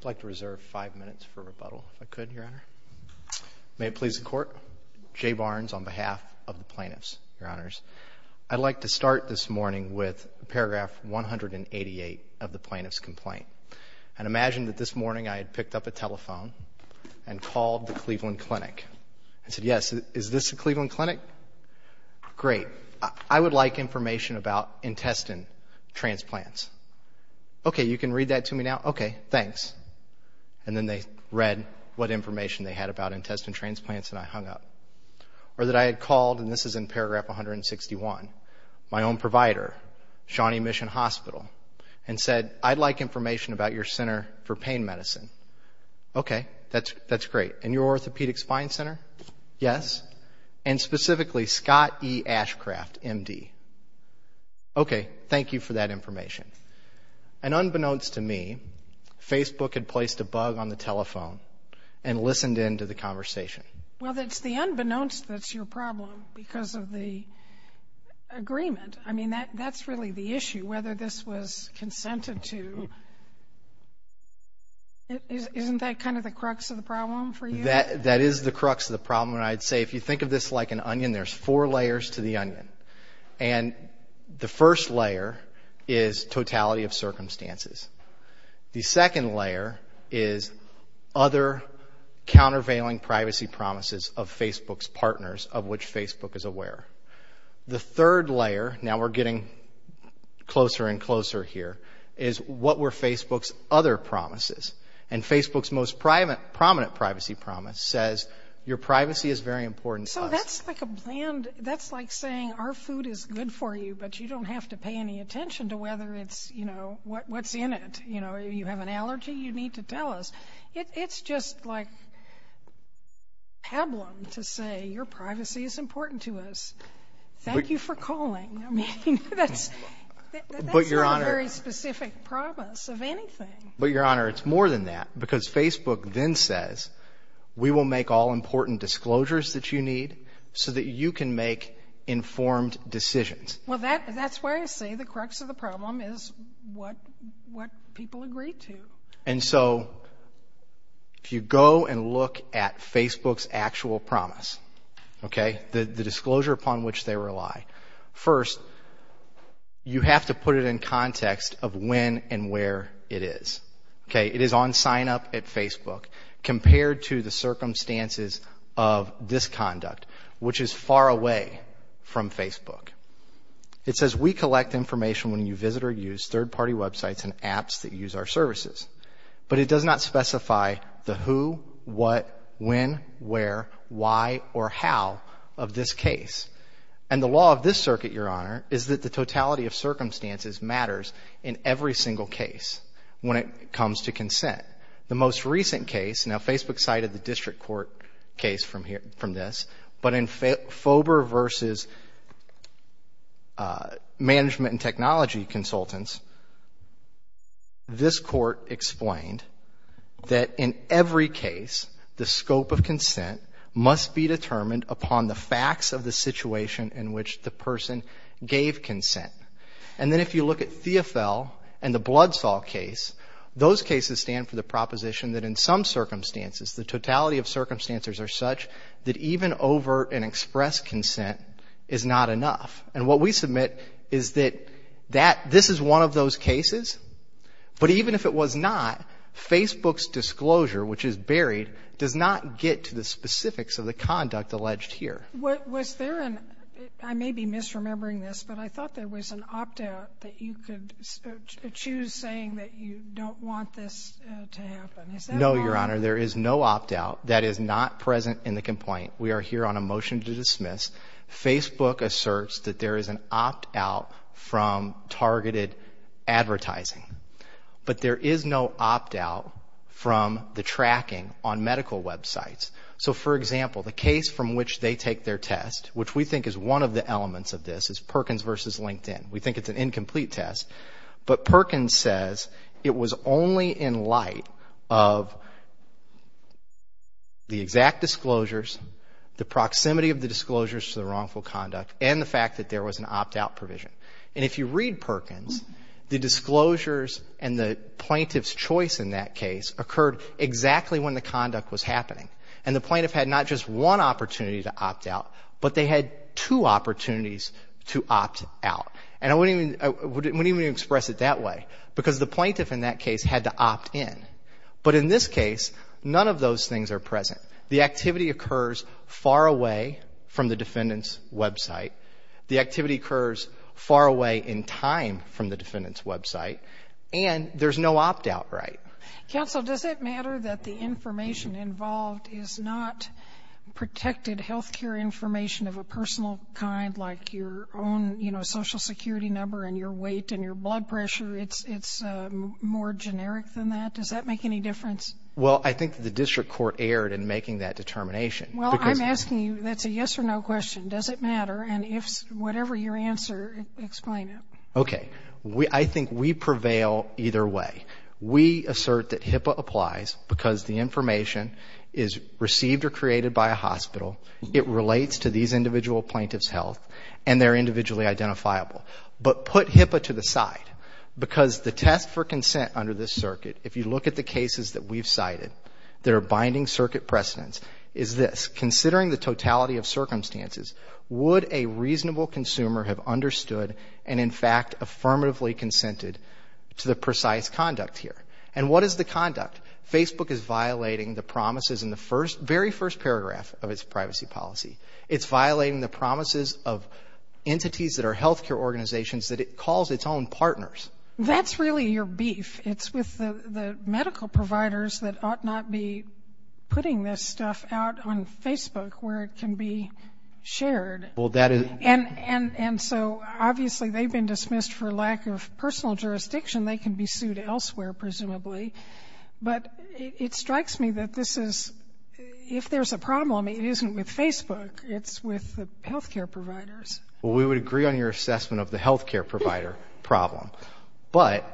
I'd like to reserve five minutes for rebuttal, if I could, Your Honor. May it please the Court, Jay Barnes on behalf of the plaintiffs, Your Honors. I'd like to start this morning with paragraph 188 of the plaintiff's complaint. And imagine that this morning I had picked up a telephone and called the Cleveland Clinic. I said, yes, is this the Cleveland Clinic? Great. I would like information about intestine transplants. Okay, you can read that to me now? Okay, thanks. And then they read what information they had about intestine transplants and I hung up. Or that I had called, and this is in paragraph 161, my own provider, Shawnee Mission Hospital, and said I'd like information about your center for pain medicine. Okay, that's great. And your orthopedic spine center? Yes. And specifically, Scott E. Ashcraft, M.D. Okay, thank you for that information. And unbeknownst to me, Facebook had placed a bug on the telephone and listened in to the conversation. Well, it's the unbeknownst that's your problem because of the agreement. I mean, that's really the issue, whether this was consented to. Isn't that kind of the crux of the problem for you? That is the crux of the problem. And I'd say if you think of this like an onion, there's four layers to the onion. And the first layer is totality of circumstances. The second layer is other countervailing privacy promises of Facebook's partners of which Facebook is aware. The third layer, now we're getting closer and closer here, is what were Facebook's other promises. And Facebook's most prominent privacy promise says your privacy is very important to us. So that's like saying our food is good for you, but you don't have to pay any attention to what's in it. You have an allergy, you need to tell us. It's just like pablum to say your privacy is important to us. Thank you for calling. I mean, that's not a very specific promise of anything. But, Your Honor, it's more than that because Facebook then says we will make all important disclosures that you need so that you can make informed decisions. Well, that's where I say the crux of the problem is what people agree to. And so if you go and look at Facebook's actual promise, okay, the disclosure upon which they rely, first, you have to put it in context of when and where it is. Okay, it is on sign-up at Facebook compared to the circumstances of this conduct, which is far away from Facebook. It says we collect information when you visit or use third-party websites and apps that use our services. But it does not specify the who, what, when, where, why, or how of this case. And the law of this circuit, Your Honor, is that the totality of circumstances matters in every single case when it comes to consent. The most recent case, now Facebook cited the district court case from this, but in FOBR versus management and technology consultants, this court explained that in every case, the scope of consent must be determined upon the facts of the situation in which the person gave consent. And then if you look at Theofel and the Blood Saw case, those cases stand for the proposition that in some circumstances, the totality of circumstances are such that even overt and express consent is not enough. And what we submit is that this is one of those cases, but even if it was not, Facebook's disclosure, which is buried, does not get to the specifics of the conduct alleged here. Was there an, I may be misremembering this, but I thought there was an opt-out that you could choose saying that you don't want this to happen. No, Your Honor, there is no opt-out that is not present in the complaint. We are here on a motion to dismiss. Facebook asserts that there is an opt-out from targeted advertising. But there is no opt-out from the tracking on medical websites. So, for example, the case from which they take their test, which we think is one of the elements of this, is Perkins versus LinkedIn. We think it's an incomplete test, but Perkins says it was only in light of the exact disclosures, the proximity of the disclosures to the wrongful conduct, and the fact that there was an opt-out provision. And if you read Perkins, the disclosures and the plaintiff's choice in that case occurred exactly when the conduct was happening. And the plaintiff had not just one opportunity to opt-out, but they had two opportunities to opt-out. And I wouldn't even express it that way, because the plaintiff in that case had to opt-in. But in this case, none of those things are present. The activity occurs far away from the defendant's website. The activity occurs far away in time from the defendant's website. And there's no opt-out right. Counsel, does it matter that the information involved is not protected health care information of a personal kind, like your own social security number and your weight and your blood pressure? It's more generic than that. Does that make any difference? Well, I think the district court erred in making that determination. Well, I'm asking you, that's a yes or no question. Does it matter? And whatever your answer, explain it. Okay. I think we prevail either way. We assert that HIPAA applies because the information is received or created by a hospital, it relates to these individual plaintiffs' health, and they're individually identifiable. But put HIPAA to the side, because the test for consent under this circuit, if you look at the cases that we've cited that are binding circuit precedents, is this. Would a reasonable consumer have understood and, in fact, affirmatively consented to the precise conduct here? And what is the conduct? Facebook is violating the promises in the very first paragraph of its privacy policy. It's violating the promises of entities that are health care organizations that it calls its own partners. That's really your beef. It's with the medical providers that ought not be putting this stuff out on Facebook where it can be shared. And so, obviously, they've been dismissed for lack of personal jurisdiction. They can be sued elsewhere, presumably. But it strikes me that this is, if there's a problem, it isn't with Facebook. It's with the health care providers. Well, we would agree on your assessment of the health care provider problem. But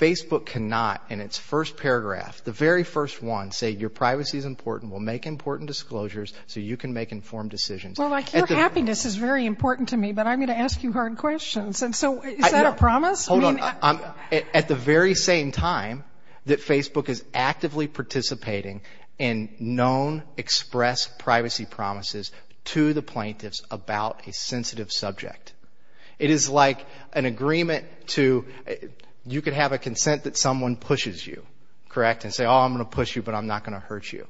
Facebook cannot, in its first paragraph, the very first one, say, your privacy is important. We'll make important disclosures so you can make informed decisions. Well, like, your happiness is very important to me, but I'm going to ask you hard questions. And so, is that a promise? Hold on. At the very same time that Facebook is actively participating in known express privacy promises to the plaintiffs about a sensitive subject. It is like an agreement to, you could have a consent that someone pushes you, correct, and say, oh, I'm going to push you, but I'm not going to hurt you.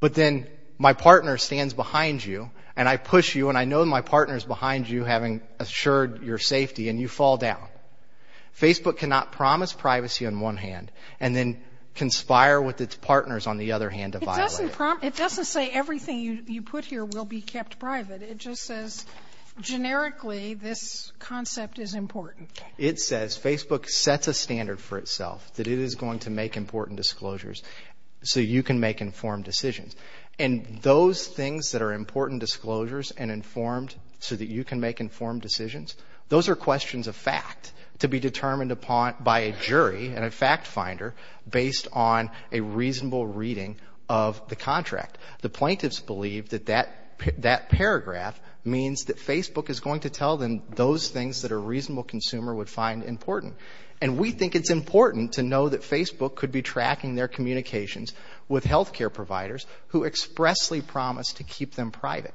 But then my partner stands behind you, and I push you, and I know my partner is behind you having assured your safety, and you fall down. Facebook cannot promise privacy on one hand and then conspire with its partners on the other hand to violate it. It doesn't say everything you put here will be kept private. It just says, generically, this concept is important. It says Facebook sets a standard for itself, that it is going to make important disclosures so you can make informed decisions. And those things that are important disclosures and informed so that you can make informed decisions, those are questions of fact to be determined upon by a jury and a fact finder based on a reasonable reading of the contract. The plaintiffs believe that that paragraph means that Facebook is going to tell them those things that a reasonable consumer would find important. And we think it's important to know that Facebook could be tracking their communications with health care providers who expressly promise to keep them private.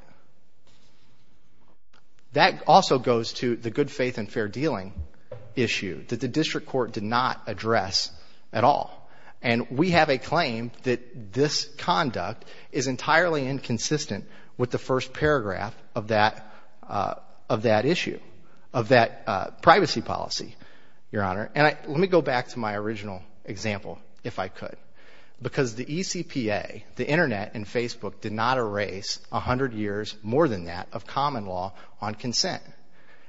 That also goes to the good faith and fair dealing issue that the district court did not address at all. And we have a claim that this conduct is entirely inconsistent with the first paragraph of that issue, of that privacy policy, Your Honor. And let me go back to my original example, if I could. Because the ECPA, the Internet and Facebook did not erase 100 years, more than that, of common law on consent.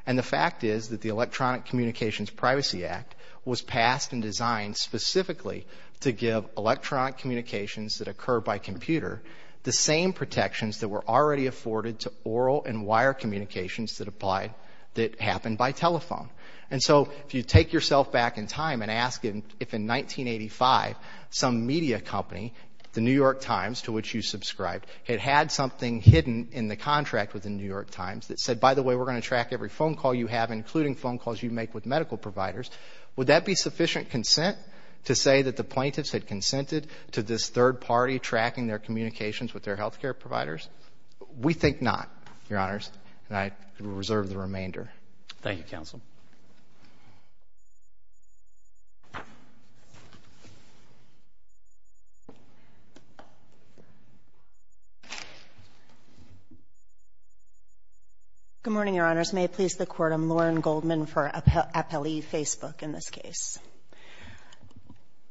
And the fact is that the Electronic Communications Privacy Act was passed and designed specifically to give electronic communications that occur by computer the same protections that were already afforded to oral and wire communications that happened by telephone. And so if you take yourself back in time and ask if in 1985 some media company, the New York Times, to which you subscribed, had had something hidden in the contract within the New York Times that said, by the way, we're going to track every phone call you have, including phone calls you make with medical providers, would that be sufficient consent to say that the plaintiffs had consented to this third party tracking their communications with their health care providers? We think not, Your Honors. And I reserve the remainder. Thank you, Counsel. Good morning, Your Honors. May it please the Court, I'm Lauren Goldman for Appellee Facebook in this case.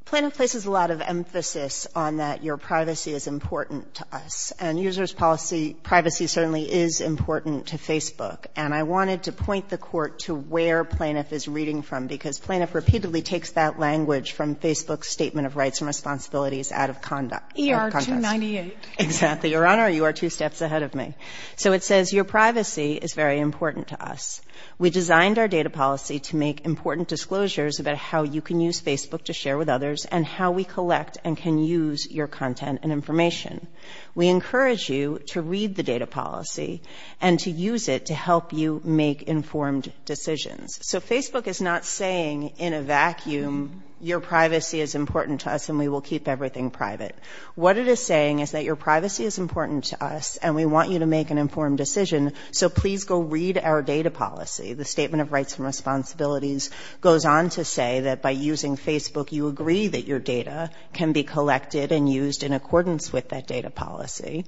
Plaintiff places a lot of emphasis on that your privacy is important to us. And user's policy, privacy certainly is important to Facebook. And I wanted to point the Court to where plaintiff is reading from, because plaintiff repeatedly takes that language from Facebook's Statement of Rights and Responsibilities out of conduct. E.R. 298. Exactly. Your Honor, you are two steps ahead of me. So it says, your privacy is very important to us. We designed our data policy to make important disclosures about how you can use Facebook to share with others and how we collect and can use your content and information. We encourage you to read the data policy and to use it to help you make informed decisions. So Facebook is not saying in a vacuum, your privacy is important to us and we will keep everything private. What it is saying is that your privacy is important to us and we want you to make an informed decision. So please go read our data policy. The Statement of Rights and Responsibilities goes on to say that by using Facebook, you agree that your data can be collected and used in accordance with that data policy.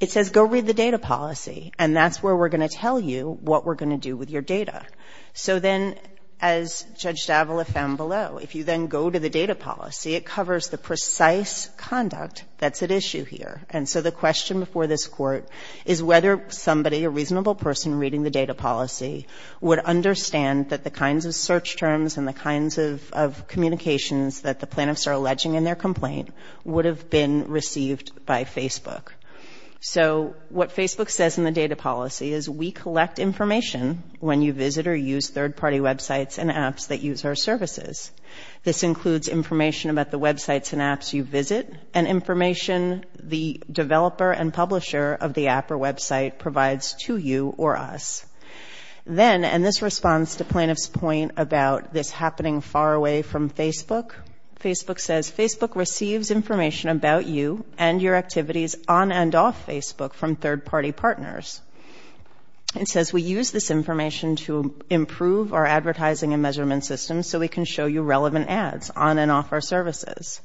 It says, go read the data policy. And that's where we're going to tell you what we're going to do with your data. So then, as Judge D'Avola found below, if you then go to the data policy, it covers the precise conduct that's at issue here. And so the question before this Court is whether somebody, a reasonable person reading the data policy, would understand that the kinds of search terms and the kinds of communications that the plaintiffs are alleging in their complaint would have been received by Facebook. So what Facebook says in the data policy is, we collect information when you visit or use third-party websites and apps that use our services. This includes information about the websites and apps you visit and information the developer and publisher of the app or website provides to you or us. Then, and this responds to plaintiff's point about this happening far away from Facebook, Facebook says, Facebook receives information about you and your activities on and off Facebook from third-party partners. It says, we use this information to improve our advertising and measurement systems so we can show you relevant ads on and off our services.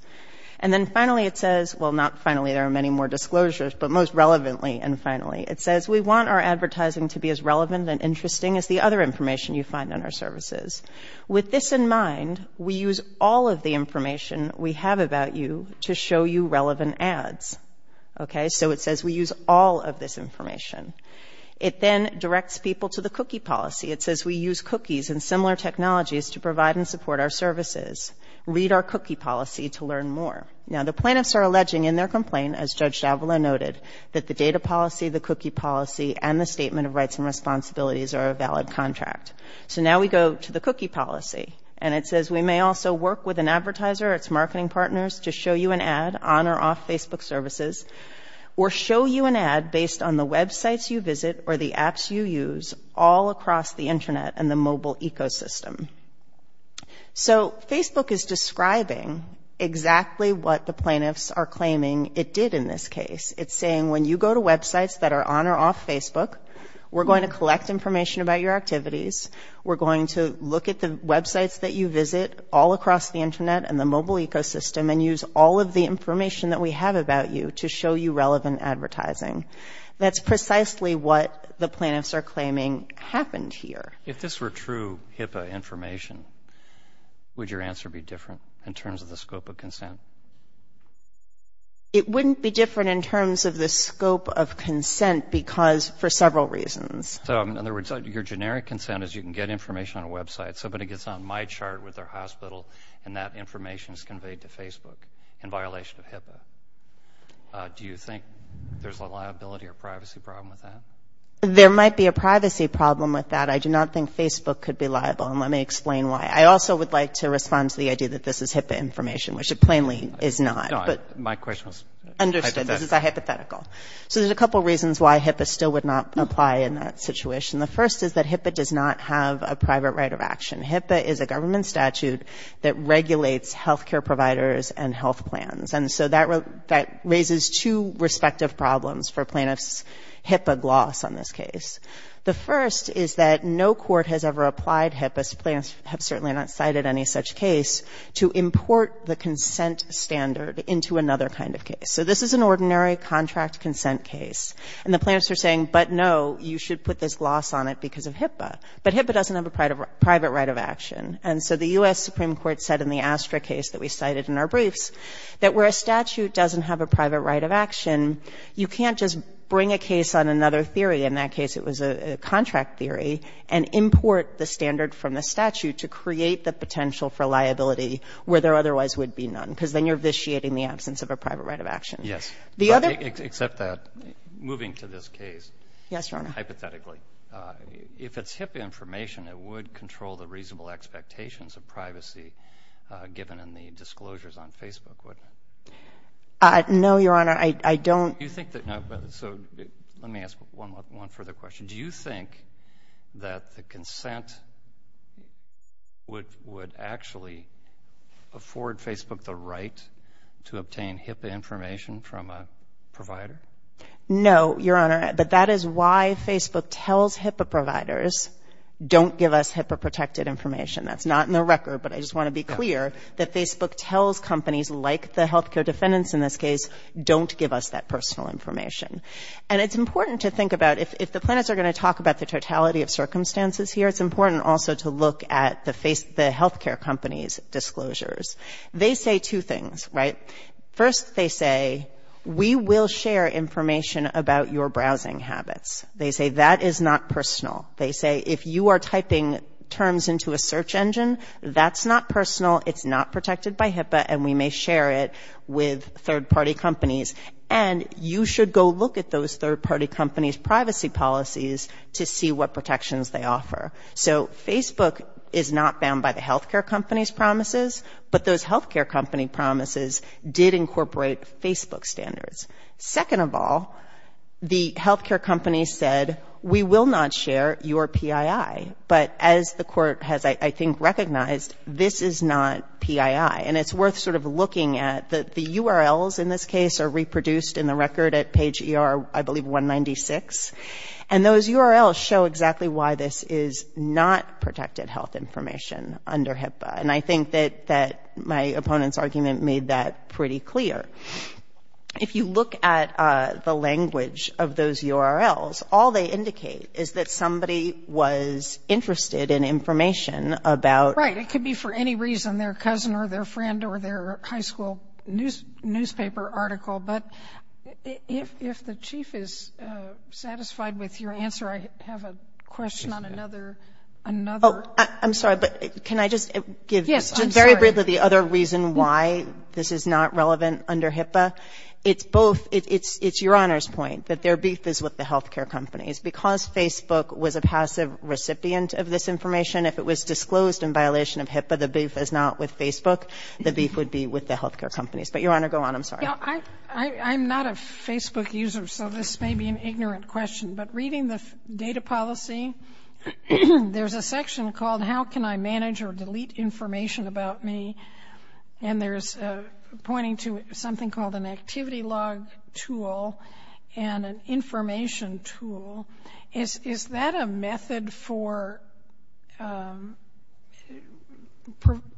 And then finally it says, well not finally, there are many more disclosures, but most relevantly and finally, it says, we want our advertising to be as relevant and interesting as the other information you find on our services. With this in mind, we use all of the information we have about you to show you relevant ads. Okay, so it says we use all of this information. It then directs people to the cookie policy. It says we use cookies and similar technologies to provide and support our services. Read our cookie policy to learn more. Now, the plaintiffs are alleging in their complaint, as Judge Shavala noted, that the data policy, the cookie policy, and the statement of rights and responsibilities are a valid contract. So now we go to the cookie policy, and it says we may also work with an advertiser or its marketing partners to show you an ad on or off Facebook services or show you an ad based on the websites you visit or the apps you use all across the Internet and the mobile ecosystem. So Facebook is describing exactly what the plaintiffs are claiming it did in this case. It's saying when you go to websites that are on or off Facebook, we're going to collect information about your activities. We're going to look at the websites that you visit all across the Internet and the mobile ecosystem and use all of the information that we have about you to show you relevant advertising. That's precisely what the plaintiffs are claiming happened here. If this were true HIPAA information, would your answer be different in terms of the scope of consent? It wouldn't be different in terms of the scope of consent because for several reasons. So, in other words, your generic consent is you can get information on a website. Somebody gets on MyChart with their hospital, and that information is conveyed to Facebook in violation of HIPAA. Do you think there's a liability or privacy problem with that? There might be a privacy problem with that. I do not think Facebook could be liable, and let me explain why. I also would like to respond to the idea that this is HIPAA information, which it plainly is not. No, my question was hypothetical. Understood. This is hypothetical. So there's a couple reasons why HIPAA still would not apply in that situation. The first is that HIPAA does not have a private right of action. HIPAA is a government statute that regulates health care providers and health plans. And so that raises two respective problems for plaintiffs' HIPAA gloss on this case. The first is that no court has ever applied HIPAA. Plaintiffs have certainly not cited any such case to import the consent standard into another kind of case. So this is an ordinary contract consent case. And the plaintiffs are saying, but no, you should put this gloss on it because of HIPAA. But HIPAA doesn't have a private right of action. And so the U.S. Supreme Court said in the Astra case that we cited in our briefs that where a statute doesn't have a private right of action, you can't just bring a case on another theory. In that case, it was a contract theory and import the standard from the statute to create the potential for liability where there otherwise would be none because then you're vitiating the absence of a private right of action. Yes. Except that, moving to this case. Yes, Your Honor. Hypothetically, if it's HIPAA information, it would control the reasonable expectations of privacy given in the disclosures on Facebook, wouldn't it? No, Your Honor. I don't. Do you think that, so let me ask one further question. Did you think that the consent would actually afford Facebook the right to obtain HIPAA information from a provider? No, Your Honor. But that is why Facebook tells HIPAA providers, don't give us HIPAA-protected information. That's not in the record, but I just want to be clear that Facebook tells companies, like the health care defendants in this case, don't give us that personal information. And it's important to think about, if the plaintiffs are going to talk about the totality of circumstances here, it's important also to look at the health care company's disclosures. They say two things, right? First, they say, we will share information about your browsing habits. They say that is not personal. They say if you are typing terms into a search engine, that's not personal, it's not protected by HIPAA, and we may share it with third-party companies. And you should go look at those third-party companies' privacy policies to see what protections they offer. So Facebook is not bound by the health care company's promises, but those health care company promises did incorporate Facebook standards. Second of all, the health care company said, we will not share your PII. But as the Court has, I think, recognized, this is not PII. And it's worth sort of looking at that the URLs in this case are reproduced in the record at page ER, I believe, 196. And those URLs show exactly why this is not protected health information under HIPAA. And I think that my opponent's argument made that pretty clear. If you look at the language of those URLs, all they indicate is that somebody was interested in information about ‑‑ their friend or their high school newspaper article. But if the Chief is satisfied with your answer, I have a question on another ‑‑ Oh, I'm sorry, but can I just give very briefly the other reason why this is not relevant under HIPAA? It's both ‑‑ it's Your Honor's point, that their beef is with the health care companies. Because Facebook was a passive recipient of this information, if it was disclosed in violation of HIPAA, the beef is not with Facebook. The beef would be with the health care companies. But, Your Honor, go on. I'm sorry. I'm not a Facebook user, so this may be an ignorant question. But reading the data policy, there's a section called, How can I manage or delete information about me? And there's pointing to something called an activity log tool and an information tool. Is that a method for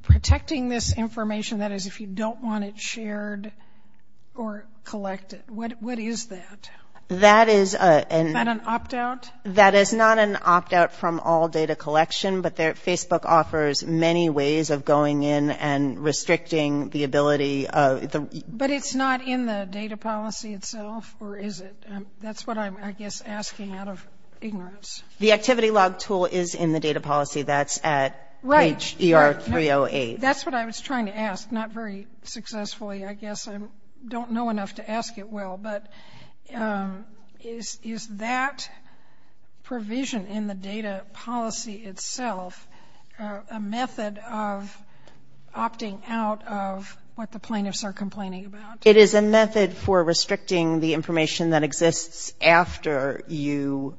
protecting this information, that is, if you don't want it shared or collected? What is that? That is a ‑‑ Is that an opt‑out? That is not an opt‑out from all data collection, but Facebook offers many ways of going in and restricting the ability of ‑‑ But it's not in the data policy itself, or is it? That's what I'm, I guess, asking out of ignorance. The activity log tool is in the data policy. That's at HDR 308. Right. That's what I was trying to ask. Not very successfully, I guess. I don't know enough to ask it well. But is that provision in the data policy itself a method of opting out of what the plaintiffs are complaining about? It is a method for restricting the information that exists after you,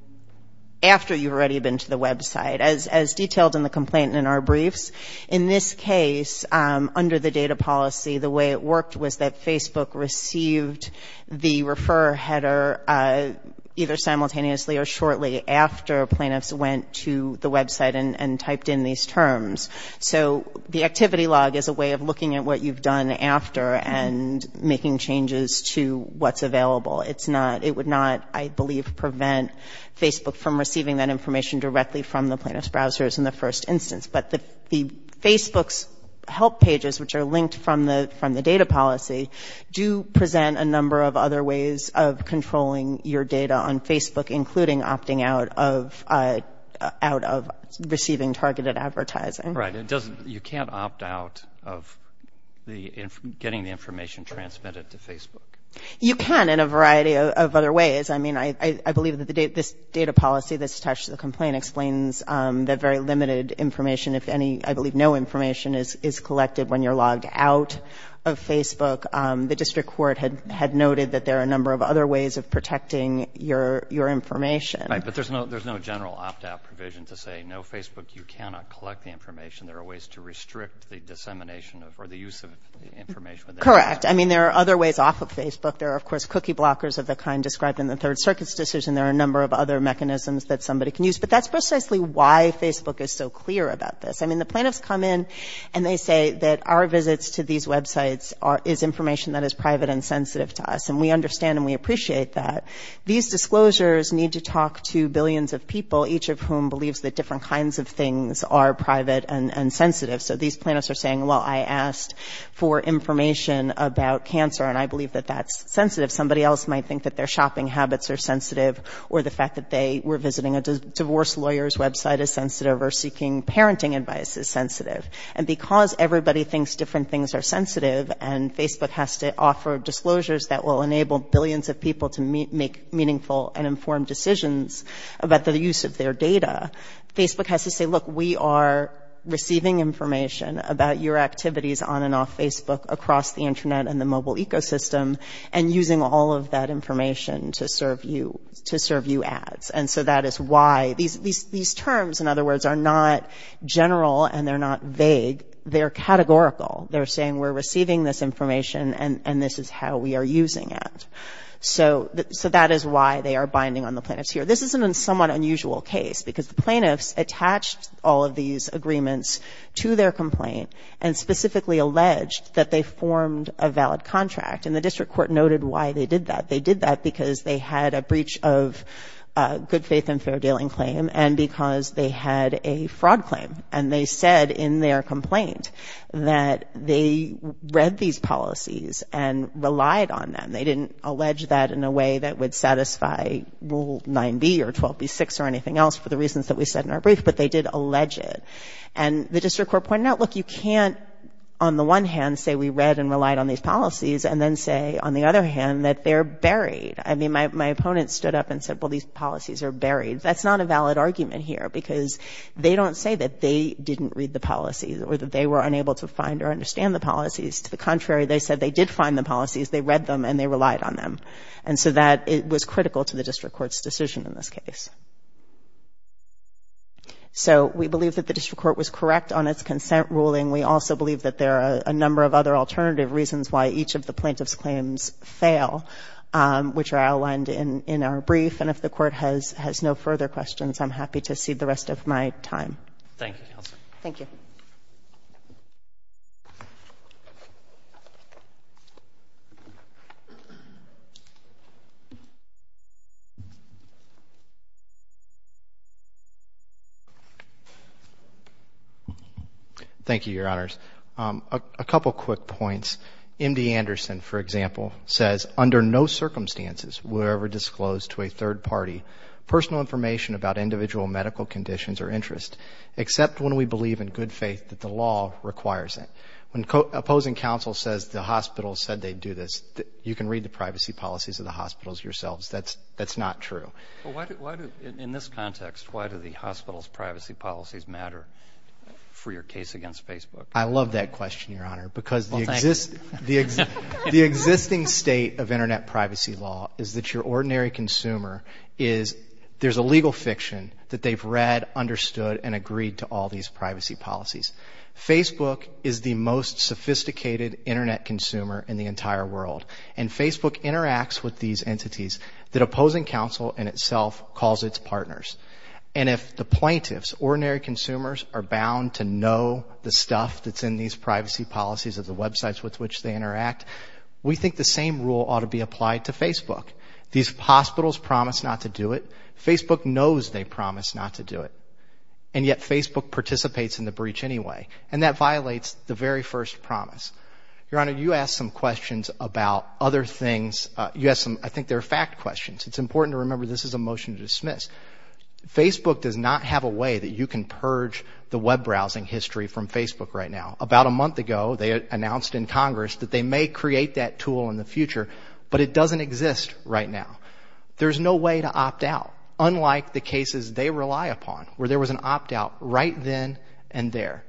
after you've already been to the website, as detailed in the complaint in our briefs. In this case, under the data policy, the way it worked was that Facebook received the refer header either simultaneously or shortly after plaintiffs went to the website and typed in these terms. So the activity log is a way of looking at what you've done after and making changes to what's available. It's not, it would not, I believe, prevent Facebook from receiving that information directly from the plaintiffs' browsers in the first instance. But the Facebook's help pages, which are linked from the data policy, do present a number of other ways of controlling your data on Facebook, including opting out of receiving targeted advertising. Right. You can't opt out of getting the information transmitted to Facebook. You can in a variety of other ways. I mean, I believe that this data policy that's attached to the complaint explains that very limited information, if any, I believe no information is collected when you're logged out of Facebook. The district court had noted that there are a number of other ways of protecting your information. Right, but there's no general opt-out provision to say, no, Facebook, you cannot collect the information. There are ways to restrict the dissemination or the use of information. Correct. I mean, there are other ways off of Facebook. There are, of course, cookie blockers of the kind described in the Third Circuit's decision. There are a number of other mechanisms that somebody can use. But that's precisely why Facebook is so clear about this. I mean, the plaintiffs come in and they say that our visits to these websites is information that is private and sensitive to us. And we understand and we appreciate that. These disclosures need to talk to billions of people, each of whom believes that different kinds of things are private and sensitive. So these plaintiffs are saying, well, I asked for information about cancer, and I believe that that's sensitive. Somebody else might think that their shopping habits are sensitive or the fact that they were visiting a divorce lawyer's website is sensitive or seeking parenting advice is sensitive. And because everybody thinks different things are sensitive and Facebook has to offer disclosures that will enable billions of people to make meaningful and informed decisions about the use of their data, Facebook has to say, look, we are receiving information about your activities on and off Facebook across the Internet and the mobile ecosystem and using all of that information to serve you ads. And so that is why these terms, in other words, are not general and they're not vague. They're categorical. They're saying we're receiving this information and this is how we are using it. So that is why they are binding on the plaintiffs here. This is a somewhat unusual case because the plaintiffs attached all of these agreements to their complaint and specifically alleged that they formed a valid contract. And the district court noted why they did that. They did that because they had a breach of good faith and fair dealing claim and because they had a fraud claim. And they said in their complaint that they read these policies and relied on them. They didn't allege that in a way that would satisfy Rule 9b or 12b6 or anything else for the reasons that we said in our brief, but they did allege it. And the district court pointed out, look, you can't, on the one hand, say we read and relied on these policies and then say, on the other hand, that they're buried. I mean, my opponent stood up and said, well, these policies are buried. That's not a valid argument here because they don't say that they didn't read the policies or that they were unable to find or understand the policies. To the contrary, they said they did find the policies, they read them, and they relied on them. And so that was critical to the district court's decision in this case. So we believe that the district court was correct on its consent ruling. We also believe that there are a number of other alternative reasons why each of the plaintiffs' claims fail, which are outlined in our brief. And if the Court has no further questions, I'm happy to cede the rest of my time. Thank you, Counsel. Thank you. Thank you, Your Honors. A couple quick points. MD Anderson, for example, says, under no circumstances were ever disclosed to a third party personal information about individual medical conditions or interests, except when we believe in good faith that the law requires it. When opposing counsel says the hospital said they'd do this, you can read the privacy policies of the hospitals yourselves. That's not true. In this context, why do the hospital's privacy policies matter for your case against Facebook? I love that question, Your Honor, because the existing state of Internet privacy law is that your ordinary consumer is, there's a legal fiction that they've read, understood, and agreed to all these privacy policies. Facebook is the most sophisticated Internet consumer in the entire world, and Facebook interacts with these entities that opposing counsel in itself calls its partners. And if the plaintiffs, ordinary consumers, are bound to know the stuff that's in these privacy policies of the websites with which they interact, we think the same rule ought to be applied to Facebook. These hospitals promise not to do it. Facebook knows they promise not to do it, and yet Facebook participates in the breach anyway, and that violates the very first promise. Your Honor, you asked some questions about other things. You asked some, I think they're fact questions. It's important to remember this is a motion to dismiss. Facebook does not have a way that you can purge the web browsing history from Facebook right now. About a month ago, they announced in Congress that they may create that tool in the future, but it doesn't exist right now. There's no way to opt out, unlike the cases they rely upon, where there was an opt out right then and there.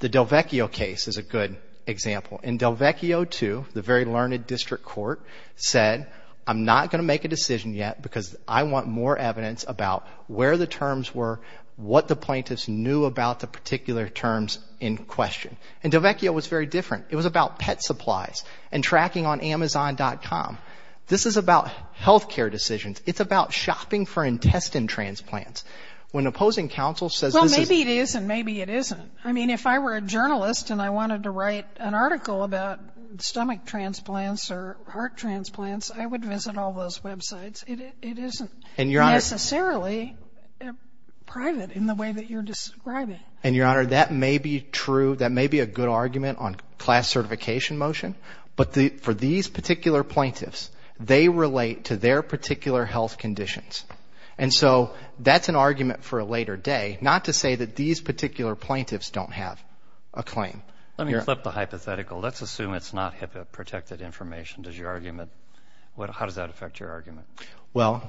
The Delvecchio case is a good example. In Delvecchio 2, the very learned district court said, I'm not going to make a decision yet because I want more evidence about where the terms were, what the plaintiffs knew about the particular terms in question. And Delvecchio was very different. It was about pet supplies and tracking on Amazon.com. This is about health care decisions. It's about shopping for intestine transplants. When opposing counsel says this is... Well, maybe it is and maybe it isn't. I mean, if I were a journalist and I wanted to write an article about stomach transplants or heart transplants, I would visit all those websites. It isn't necessarily private in the way that you're describing. And, Your Honor, that may be true. That may be a good argument on class certification motion, but for these particular plaintiffs, they relate to their particular health conditions. And so that's an argument for a later day, not to say that these particular plaintiffs don't have a claim. Let me flip the hypothetical. Let's assume it's not HIPAA-protected information. How does that affect your argument? Well,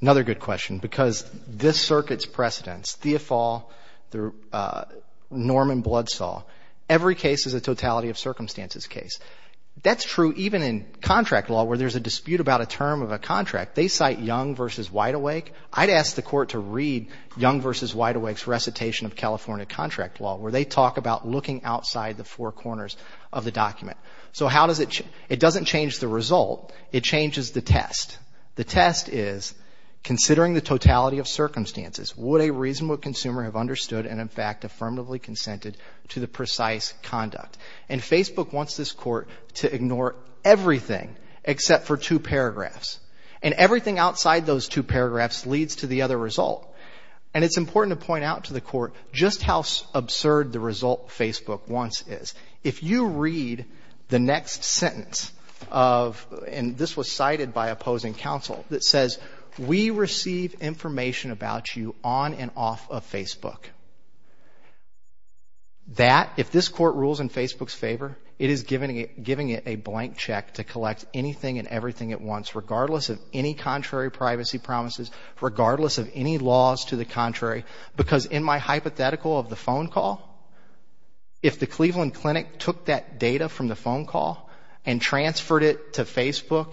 another good question, because this Circuit's precedents, Theofal, Norman Bloodsaw, every case is a totality-of-circumstances case. That's true even in contract law where there's a dispute about a term of a contract. They cite Young v. Wideawake. I'd ask the Court to read Young v. Wideawake's recitation of California contract law where they talk about looking outside the four corners of the document. So how does it change? It doesn't change the result. It changes the test. The test is, considering the totality-of-circumstances, would a reasonable consumer have understood and, in fact, affirmatively consented to the precise conduct? And Facebook wants this Court to ignore everything except for two paragraphs. And everything outside those two paragraphs leads to the other result. And it's important to point out to the Court just how absurd the result Facebook wants is. If you read the next sentence of, and this was cited by opposing counsel, that says, We receive information about you on and off of Facebook. That, if this Court rules in Facebook's favor, it is giving it a blank check to collect anything and everything at once, regardless of any contrary privacy promises, regardless of any laws to the contrary, because in my hypothetical of the phone call, if the Cleveland Clinic took that data from the phone call and transferred it to Facebook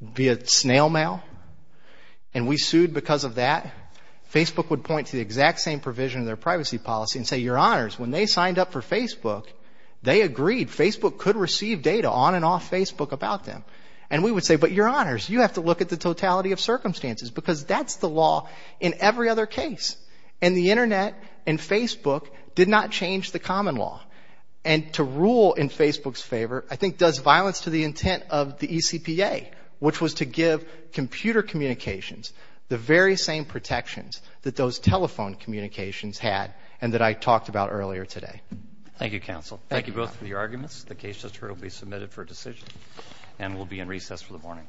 via snail mail, and we sued because of that, Facebook would point to the exact same provision of their privacy policy and say, Your Honors, when they signed up for Facebook, they agreed Facebook could receive data on and off Facebook about them. And we would say, But Your Honors, you have to look at the totality-of-circumstances because that's the law in every other case. And the Internet and Facebook did not change the common law. And to rule in Facebook's favor, I think, does violence to the intent of the ECPA, which was to give computer communications the very same protections that those telephone communications had and that I talked about earlier today. Thank you, counsel. Thank you both for your arguments. The case just heard will be submitted for decision and will be in recess for the morning.